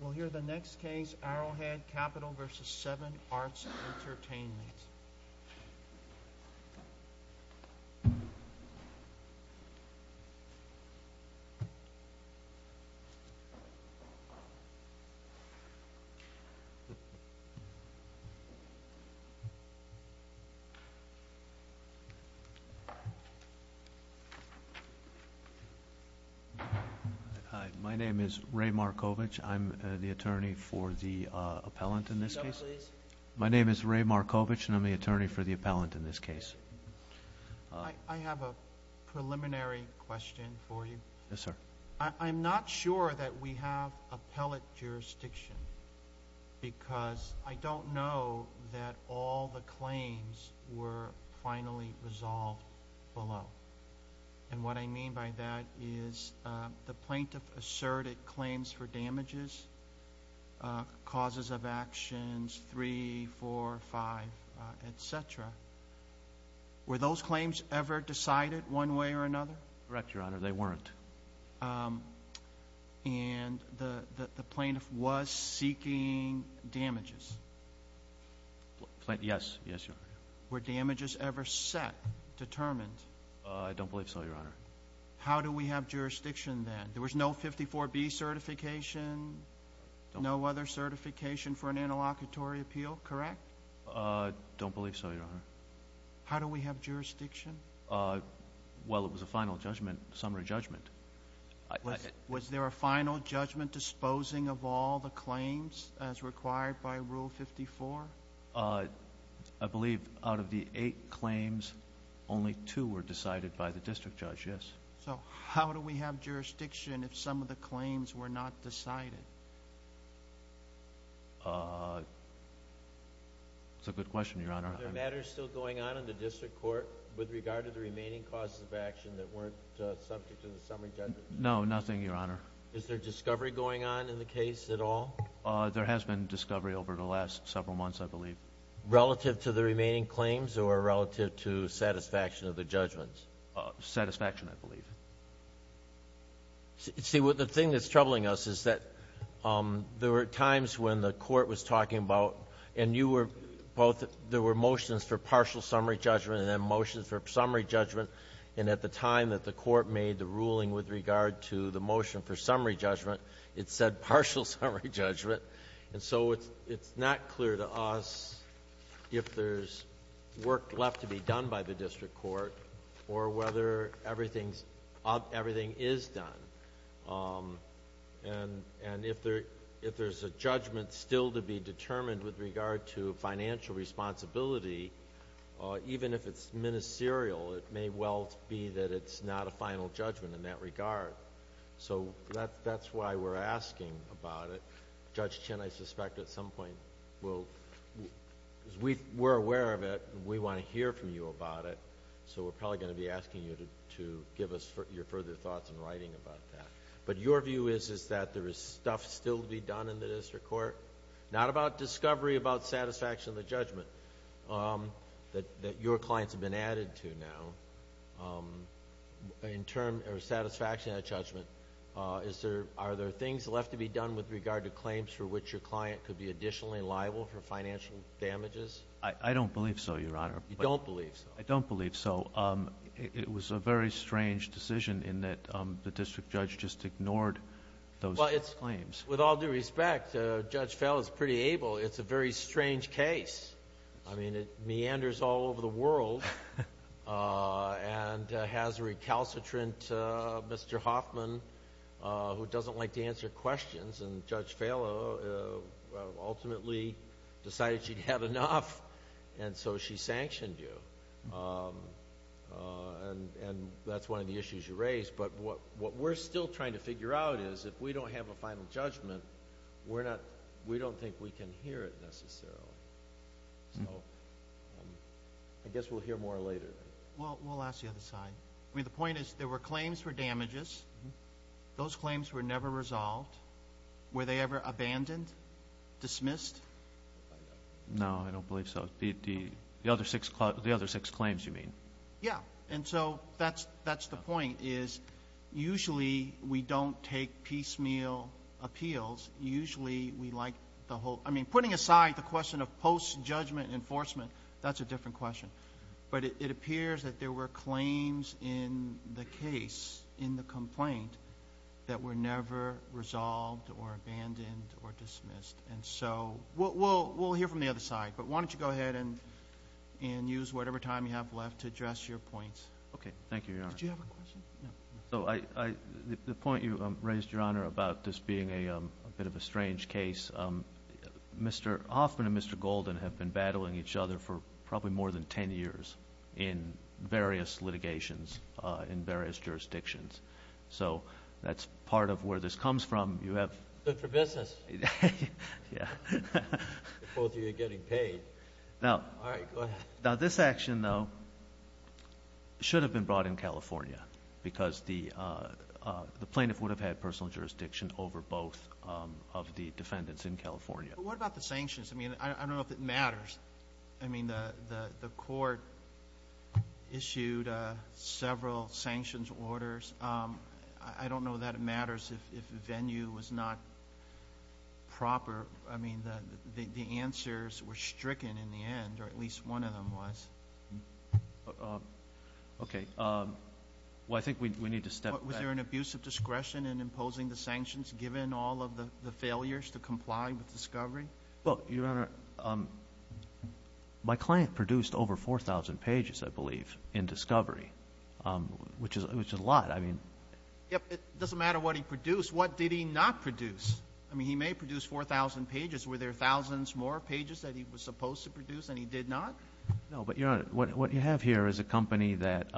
We'll hear the next case, Arrowhead Capital v. 7 Arts and Entertainment Hi, my name is Ray Markovich. I'm the attorney for the appellant in this case. I have a preliminary question for you. I'm not sure that we have appellate jurisdiction because I don't know that all the claims were finally resolved below. And what I mean by that is the plaintiff asserted claims for damages, causes of actions, 3, 4, 5, etc. Were those claims ever decided one way or another? Correct, Your Honor. They weren't. And the plaintiff was seeking damages? Yes, Your Honor. Were damages ever set, determined? I don't believe so, Your Honor. How do we have jurisdiction then? There was no 54B certification, no other certification for an interlocutory appeal, correct? I don't believe so, Your Honor. How do we have jurisdiction? Well, it was a final judgment, summary judgment. Was there a final judgment disposing of all the claims as required by Rule 54? I believe out of the eight claims, only two were decided by the district judge, yes. So how do we have jurisdiction if some of the claims were not decided? That's a good question, Your Honor. Are there matters still going on in the district court with regard to the remaining causes of action that weren't subject to the summary judgment? No, nothing, Your Honor. Is there discovery going on in the case at all? There has been discovery over the last several months, I believe. Relative to the remaining claims or relative to satisfaction of the judgments? Satisfaction, I believe. See, the thing that's troubling us is that there were times when the court was talking about and you were both, there were motions for partial summary judgment and then motions for summary judgment, and at the time that the court made the ruling with regard to the motion for summary judgment, it said partial summary judgment. And so it's not clear to us if there's work left to be done by the district court or whether everything is done. And if there's a judgment still to be determined with regard to financial responsibility, even if it's ministerial, it may well be that it's not a final judgment in that regard. So that's why we're asking about it. Judge Chin, I suspect at some point will, we're aware of it and we want to hear from you about it, so we're probably going to be asking you to give us your further thoughts in writing about that. But your view is that there is stuff still to be done in the district court? Not about discovery, about satisfaction of the judgment that your clients have been added to now. In terms of satisfaction of that judgment, are there things left to be done with regard to claims for which your client could be additionally liable for financial damages? I don't believe so, Your Honor. You don't believe so? I don't believe so. It was a very strange decision in that the district judge just ignored those claims. Well, with all due respect, Judge Fell is pretty able. It's a very strange case. I mean, it meanders all over the world and has a recalcitrant Mr. Hoffman who doesn't like to answer questions, and Judge Fell ultimately decided she'd had enough, and so she sanctioned you. And that's one of the issues you raised. But what we're still trying to figure out is if we don't have a final judgment, we don't think we can hear it necessarily. So I guess we'll hear more later. Well, we'll ask the other side. I mean, the point is there were claims for damages. Those claims were never resolved. Were they ever abandoned, dismissed? No, I don't believe so. The other six claims you mean? Yeah. And so that's the point, is usually we don't take piecemeal appeals. Usually we like the whole – I mean, putting aside the question of post-judgment enforcement, that's a different question. But it appears that there were claims in the case, in the complaint, that were never resolved or abandoned or dismissed. And so we'll hear from the other side, but why don't you go ahead and use whatever time you have left to address your points. Okay. Thank you, Your Honor. Did you have a question? So the point you raised, Your Honor, about this being a bit of a strange case, Hoffman and Mr. Golden have been battling each other for probably more than 10 years in various litigations in various jurisdictions. So that's part of where this comes from. Good for business. Yeah. Both of you are getting paid. All right, go ahead. Now, this action, though, should have been brought in California because the plaintiff would have had personal jurisdiction over both of the defendants in California. But what about the sanctions? I mean, I don't know if it matters. I mean, the court issued several sanctions orders. I don't know that it matters if venue was not proper. I mean, the answers were stricken in the end, or at least one of them was. Okay. Well, I think we need to step back. Was there an abuse of discretion in imposing the sanctions given all of the failures to comply with discovery? Well, Your Honor, my client produced over 4,000 pages, I believe, in discovery, which is a lot. It doesn't matter what he produced. What did he not produce? I mean, he may have produced 4,000 pages. Were there thousands more pages that he was supposed to produce and he did not? No, but, Your Honor, what you have here is a company that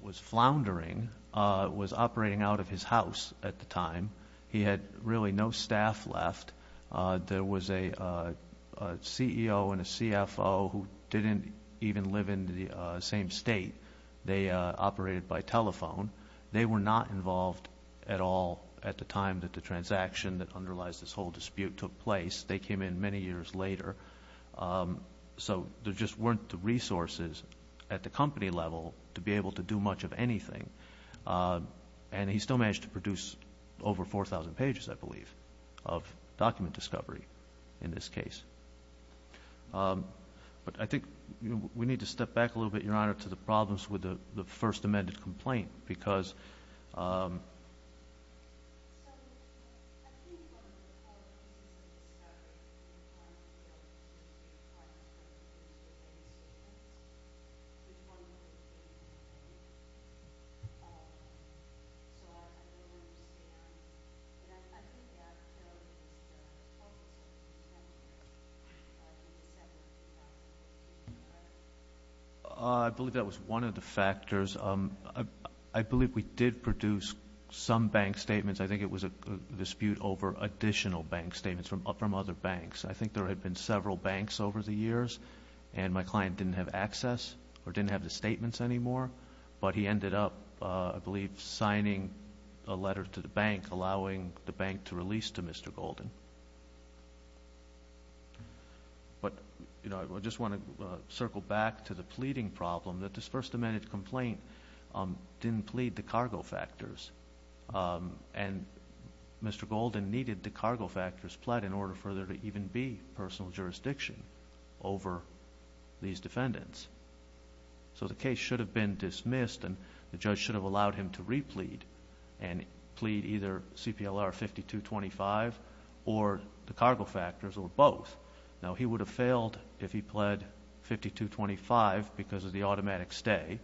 was floundering, was operating out of his house at the time. He had really no staff left. There was a CEO and a CFO who didn't even live in the same state. They operated by telephone. They were not involved at all at the time that the transaction that underlies this whole dispute took place. They came in many years later. So there just weren't the resources at the company level to be able to do much of anything. And he still managed to produce over 4,000 pages, I believe, of document discovery in this case. But I think we need to step back a little bit, Your Honor, to the problems with the first amended complaint because I believe that was one of the factors. I believe we did produce some bank statements. I think it was a dispute over additional bank statements from other banks. I think there had been several banks over the years, and my client didn't have access or didn't have the statements anymore. But he ended up, I believe, signing a letter to the bank, allowing the bank to release to Mr. Golden. But I just want to circle back to the pleading problem that this first amended complaint didn't plead to cargo factors. And Mr. Golden needed the cargo factors pled in order for there to even be personal jurisdiction over these defendants. So the case should have been dismissed, and the judge should have allowed him to replead and plead either CPLR 5225 or the cargo factors or both. Now, he would have failed if he pled 5225 because of the automatic stay,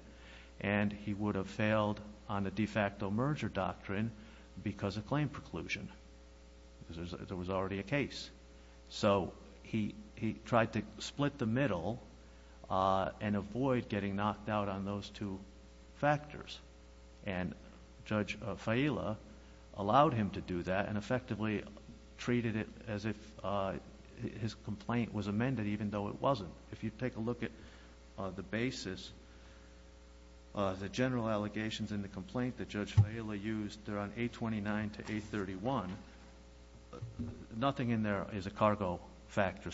and he would have failed on the de facto merger doctrine because of claim preclusion. There was already a case. So he tried to split the middle and avoid getting knocked out on those two factors. And Judge Faila allowed him to do that and effectively treated it as if his complaint was amended even though it wasn't. If you take a look at the basis, the general allegations in the complaint that Judge Faila used, they're on 829 to 831. Nothing in there is a cargo factor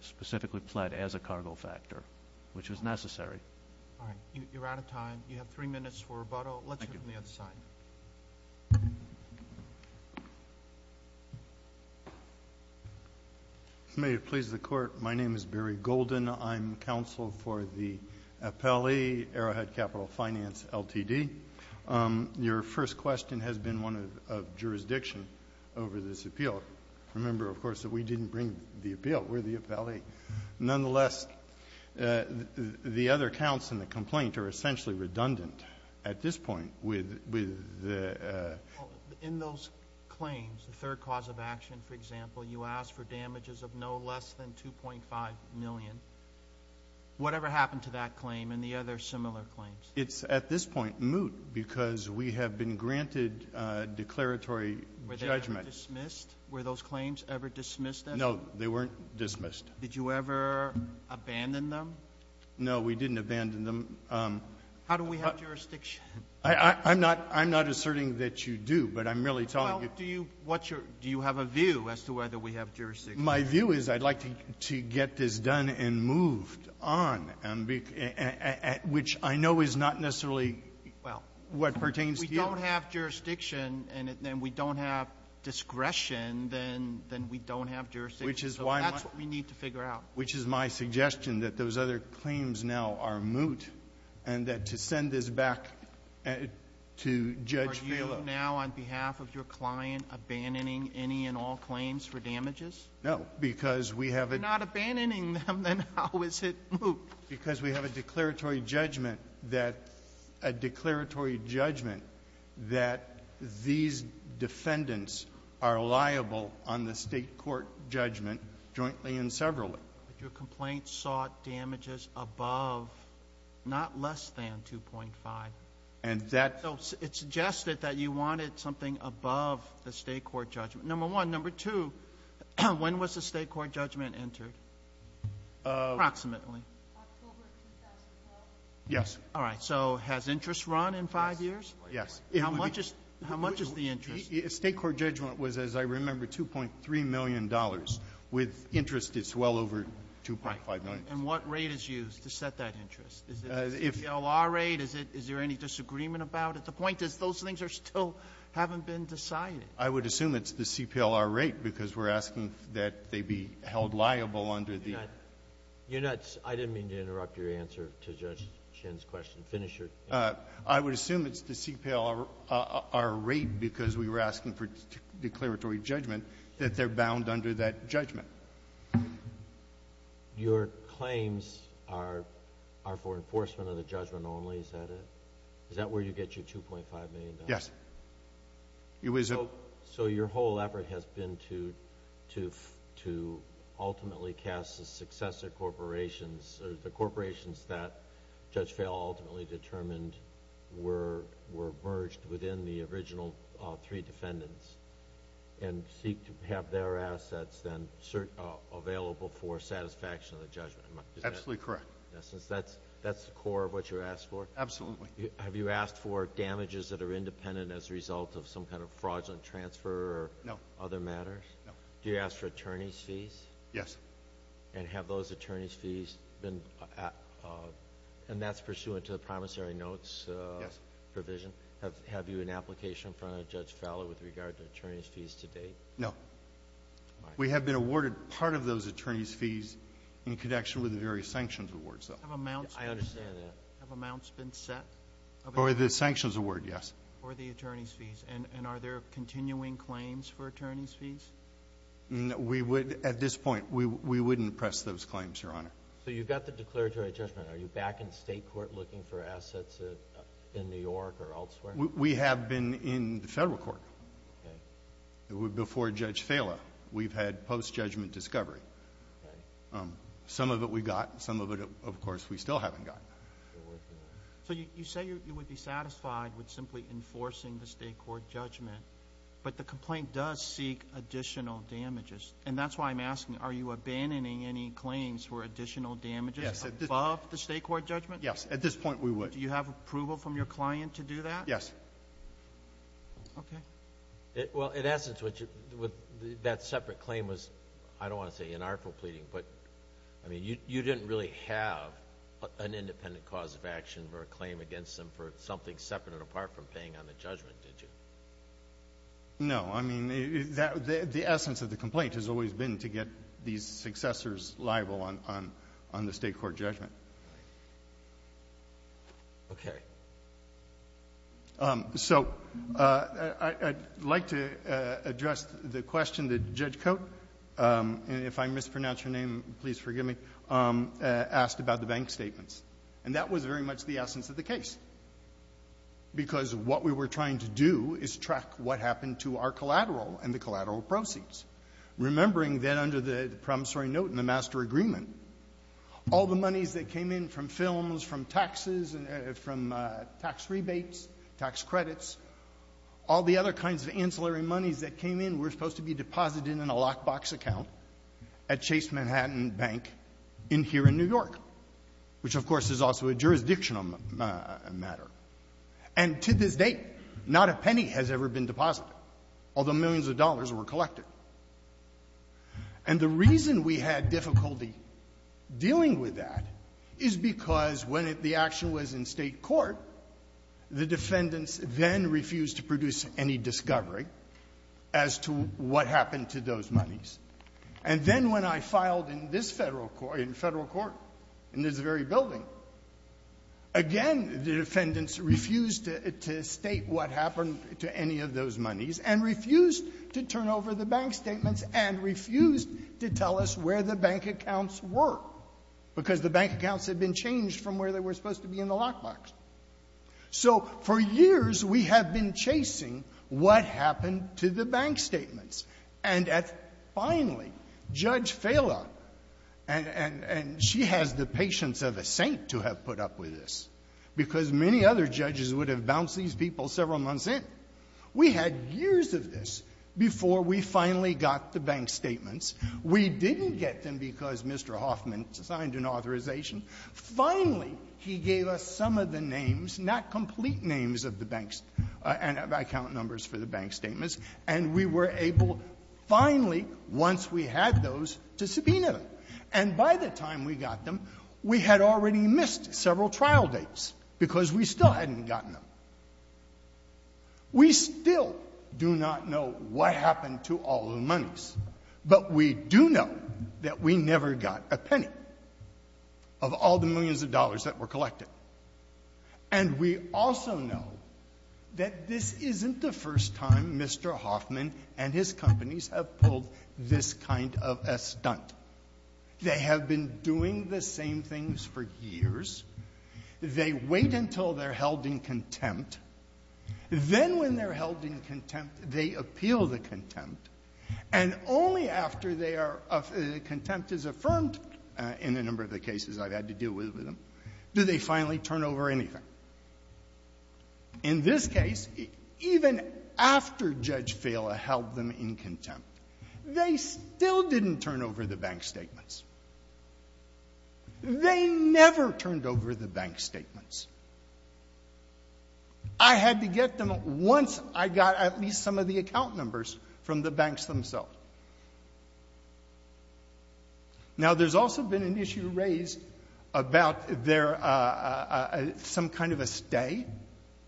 specifically pled as a cargo factor, which was necessary. All right. You're out of time. You have three minutes for rebuttal. Thank you. Let's hear from the other side. May it please the Court, my name is Barry Golden. I'm counsel for the Appellee Arrowhead Capital Finance, LTD. Your first question has been one of jurisdiction over this appeal. Remember, of course, that we didn't bring the appeal. We're the appellee. Nonetheless, the other counts in the complaint are essentially redundant at this point with the ---- In those claims, the third cause of action, for example, you asked for damages of no less than $2.5 million. Whatever happened to that claim and the other similar claims? It's at this point moot because we have been granted declaratory judgment. Were they dismissed? Were those claims ever dismissed at all? No, they weren't dismissed. Did you ever abandon them? No, we didn't abandon them. How do we have jurisdiction? I'm not asserting that you do, but I'm merely telling you ---- Well, do you have a view as to whether we have jurisdiction? My view is I'd like to get this done and moved on, which I know is not necessarily what pertains to you. Well, if we don't have jurisdiction and we don't have discretion, then we don't have jurisdiction. So that's what we need to figure out. Which is my suggestion, that those other claims now are moot and that to send this back to Judge Phelop. Are you now, on behalf of your client, abandoning any and all claims for damages? No, because we have a ---- If you're not abandoning them, then how is it moot? Because we have a declaratory judgment that these defendants are liable on the State Court judgment jointly and severally. But your complaint sought damages above, not less than, 2.5. And that ---- So it suggested that you wanted something above the State Court judgment, number one. Number two, when was the State Court judgment entered, approximately? October of 2012. Yes. All right. So has interest run in five years? Yes. How much is the interest? The State Court judgment was, as I remember, $2.3 million. With interest, it's well over 2.5 million. And what rate is used to set that interest? Is it a CPLR rate? Is there any disagreement about it? The point is those things are still haven't been decided. I would assume it's the CPLR rate, because we're asking that they be held liable under the ---- You're not ---- I didn't mean to interrupt your answer to Judge Shin's question. Finish your ---- I would assume it's the CPLR rate, because we were asking for declaratory judgment, that they're bound under that judgment. Your claims are for enforcement of the judgment only. Is that it? Is that where you get your $2.5 million? Yes. You wish to? So your whole effort has been to ultimately cast the successor corporations, or the corporations that Judge Fehl ultimately determined were merged within the original three defendants, and seek to have their assets then available for satisfaction of the judgment. Is that it? Absolutely correct. That's the core of what you're asking for? Absolutely. Have you asked for damages that are independent as a result of some kind of fraudulent transfer or other matters? No. Do you ask for attorney's fees? Yes. And have those attorney's fees been ---- and that's pursuant to the promissory notes provision? Yes. Have you an application from Judge Fehl with regard to attorney's fees to date? No. We have been awarded part of those attorney's fees in connection with the various sanctions awards, though. I understand that. Have amounts been set? For the sanctions award, yes. For the attorney's fees. And are there continuing claims for attorney's fees? At this point, we wouldn't press those claims, Your Honor. So you've got the declaratory judgment. Are you back in state court looking for assets in New York or elsewhere? We have been in the federal court. Okay. Before Judge Fehl, we've had post-judgment discovery. Okay. Some of it we got. Some of it, of course, we still haven't gotten. So you say you would be satisfied with simply enforcing the state court judgment. But the complaint does seek additional damages. And that's why I'm asking, are you abandoning any claims for additional damages above the state court judgment? Yes. At this point, we would. Do you have approval from your client to do that? Yes. Okay. Well, in essence, that separate claim was, I don't want to say inartful I mean, you didn't really have an independent cause of action or a claim against them for something separate and apart from paying on the judgment, did you? No. I mean, the essence of the complaint has always been to get these successors liable on the state court judgment. Okay. So I'd like to address the question that Judge Cote, if I mispronounce your name, please forgive me, asked about the bank statements. And that was very much the essence of the case. Because what we were trying to do is track what happened to our collateral and the collateral proceeds. Remembering then under the promissory note in the master agreement, all the monies that came in from films, from taxes, from tax rebates, tax credits, all the other kinds of ancillary monies that came in were supposed to be deposited in a lockbox account at Chase Manhattan Bank in here in New York, which of course is also a jurisdictional matter. And to this date, not a penny has ever been deposited, although millions of dollars were collected. And the reason we had difficulty dealing with that is because when the action was in state court, the defendants then refused to produce any discovery as to what happened to those monies. And then when I filed in this Federal Court, in Federal Court, in this very building, again, the defendants refused to state what happened to any of those monies and refused to turn over the bank statements and refused to tell us where the bank accounts were, because the bank accounts had been changed from where they were supposed to be in the lockbox. So for years, we have been chasing what happened to the bank statements. And at finally, Judge Fala, and she has the patience of a saint to have put up with this, because many other judges would have bounced these people several months in. We had years of this before we finally got the bank statements. We didn't get them because Mr. Hoffman signed an authorization. Finally, he gave us some of the names, not complete names of the banks and account numbers for the bank statements, and we were able, finally, once we had those, to subpoena them. And by the time we got them, we had already missed several trial dates because we still hadn't gotten them. We still do not know what happened to all the monies, but we do know that we never got a penny of all the millions of dollars that were collected. And we also know that this isn't the first time Mr. Hoffman and his companies have pulled this kind of a stunt. They have been doing the same things for years. They wait until they're held in contempt. Then when they're held in contempt, they appeal the contempt. And only after they are of the contempt is affirmed, in a number of the cases I've had to deal with them, do they finally turn over anything. In this case, even after Judge Fela held them in contempt, they still didn't turn over the bank statements. They never turned over the bank statements. I had to get them once I got at least some of the account numbers from the banks themselves. Now, there's also been an issue raised about there some kind of a stay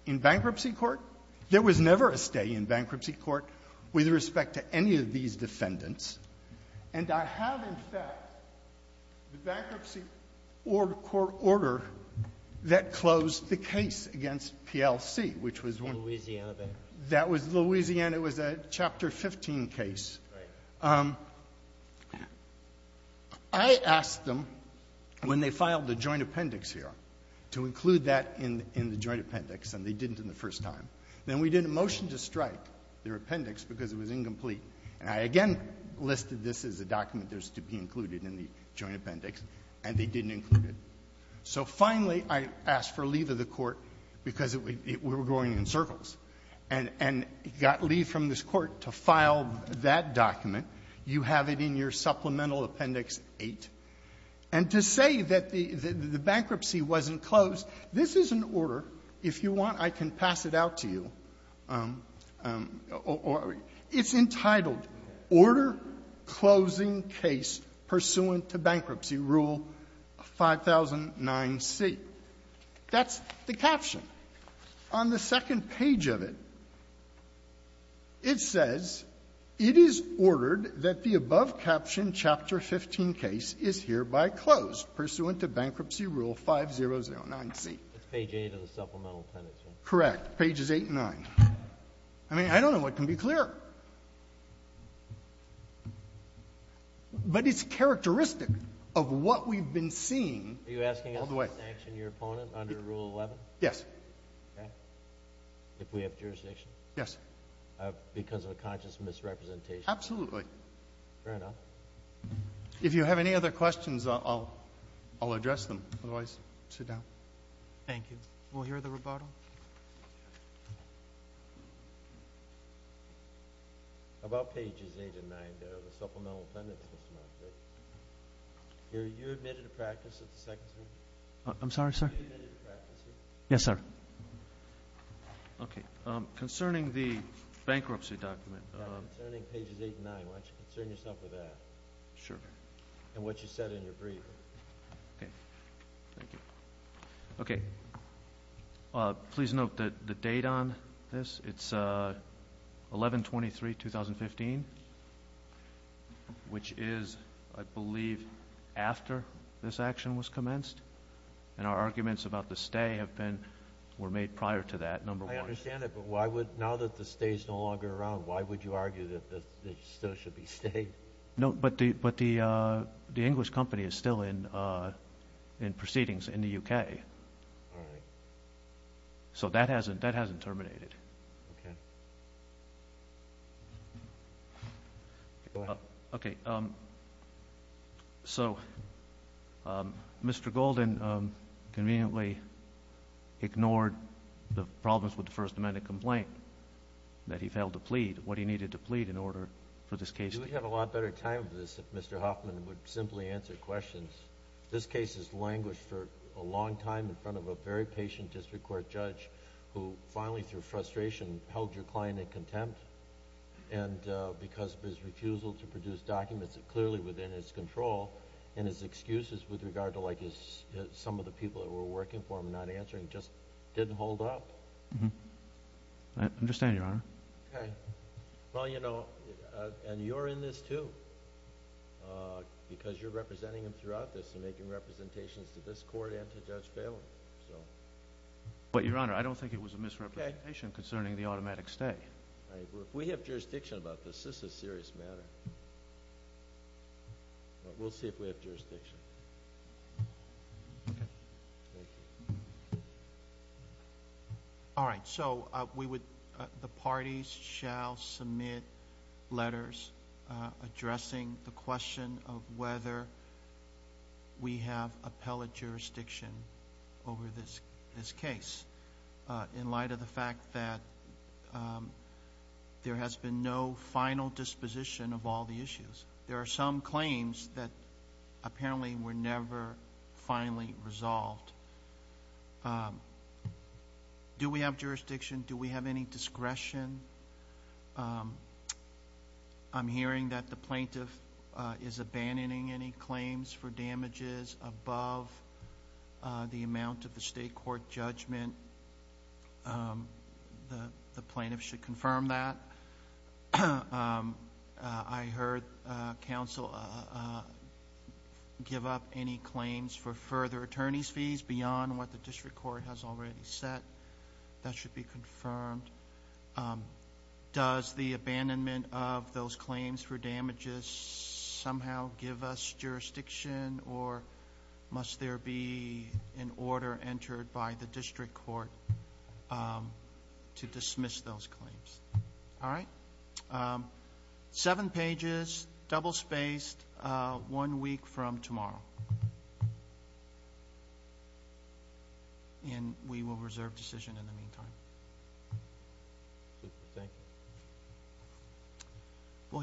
in bankruptcy court. There was never a stay in bankruptcy court with respect to any of these defendants. And I have, in fact, the Bankruptcy Court order that closed the case against PLC, which was one of the — In Louisiana, then? That was Louisiana. It was a Chapter 15 case. Right. I asked them, when they filed the joint appendix here, to include that in the joint appendix, and they didn't the first time. Then we did a motion to strike their appendix because it was incomplete. And I again listed this as a document that's to be included in the joint appendix, and they didn't include it. So finally, I asked for leave of the Court because we were going in circles, and got leave from this Court to file that document. You have it in your supplemental Appendix 8. And to say that the bankruptcy wasn't closed, this is an order. If you want, I can pass it out to you. It's entitled, Order Closing Case Pursuant to Bankruptcy Rule 5009C. That's the caption. On the second page of it, it says, it is ordered that the above-captioned Chapter 15 case is hereby closed pursuant to Bankruptcy Rule 5009C. It's page 8 of the supplemental appendix. Correct. Pages 8 and 9. I mean, I don't know what can be clearer. But it's characteristic of what we've been seeing all the way — Are you asking us to sanction your opponent under Rule 11? Yes. Okay. If we have jurisdiction? Yes. Because of a conscious misrepresentation? Absolutely. Fair enough. If you have any other questions, I'll address them. Otherwise, sit down. Thank you. We'll hear the rebuttal. About pages 8 and 9 of the supplemental appendix, Mr. Monfort. Are you admitted to practice at the Second Circuit? I'm sorry, sir? Are you admitted to practice here? Yes, sir. Okay. Concerning the bankruptcy document — Yeah, concerning pages 8 and 9. Why don't you concern yourself with that? Sure. And what you said in your brief. Okay. Thank you. Okay. Please note the date on this. It's 11-23-2015, which is, I believe, after this action was commenced. And our arguments about the stay were made prior to that, number one. I understand that, but now that the stay is no longer around, why would you argue that it still should be stayed? No, but the English company is still in proceedings in the U.K. All right. So that hasn't terminated. Okay. Go ahead. Okay. So Mr. Golden conveniently ignored the problems with the First Amendment complaint that he failed to plead what he needed to plead in order for this case — We would have a lot better time of this if Mr. Hoffman would simply answer questions. This case has languished for a long time in front of a very patient district court judge who finally, through frustration, held your client in contempt. And because of his refusal to produce documents clearly within his control and his excuses with regard to, like, some of the people that were working for him not answering, I understand, Your Honor. Okay. Well, you know, and you're in this too because you're representing him throughout this and making representations to this court and to Judge Phelan. But, Your Honor, I don't think it was a misrepresentation concerning the automatic stay. If we have jurisdiction about this, this is a serious matter. We'll see if we have jurisdiction. Okay. Thank you. All right. So we would—the parties shall submit letters addressing the question of whether we have appellate jurisdiction over this case in light of the fact that there has been no final disposition of all the issues. There are some claims that apparently were never finally resolved. Do we have jurisdiction? Do we have any discretion? I'm hearing that the plaintiff is abandoning any claims for damages above the amount of the state court judgment. The plaintiff should confirm that. I heard counsel give up any claims for further attorney's fees beyond what the district court has already set. That should be confirmed. Does the abandonment of those claims for damages somehow give us jurisdiction, or must there be an order entered by the district court to dismiss those claims? All right. Seven pages, double-spaced, one week from tomorrow. And we will reserve decision in the meantime. Thank you.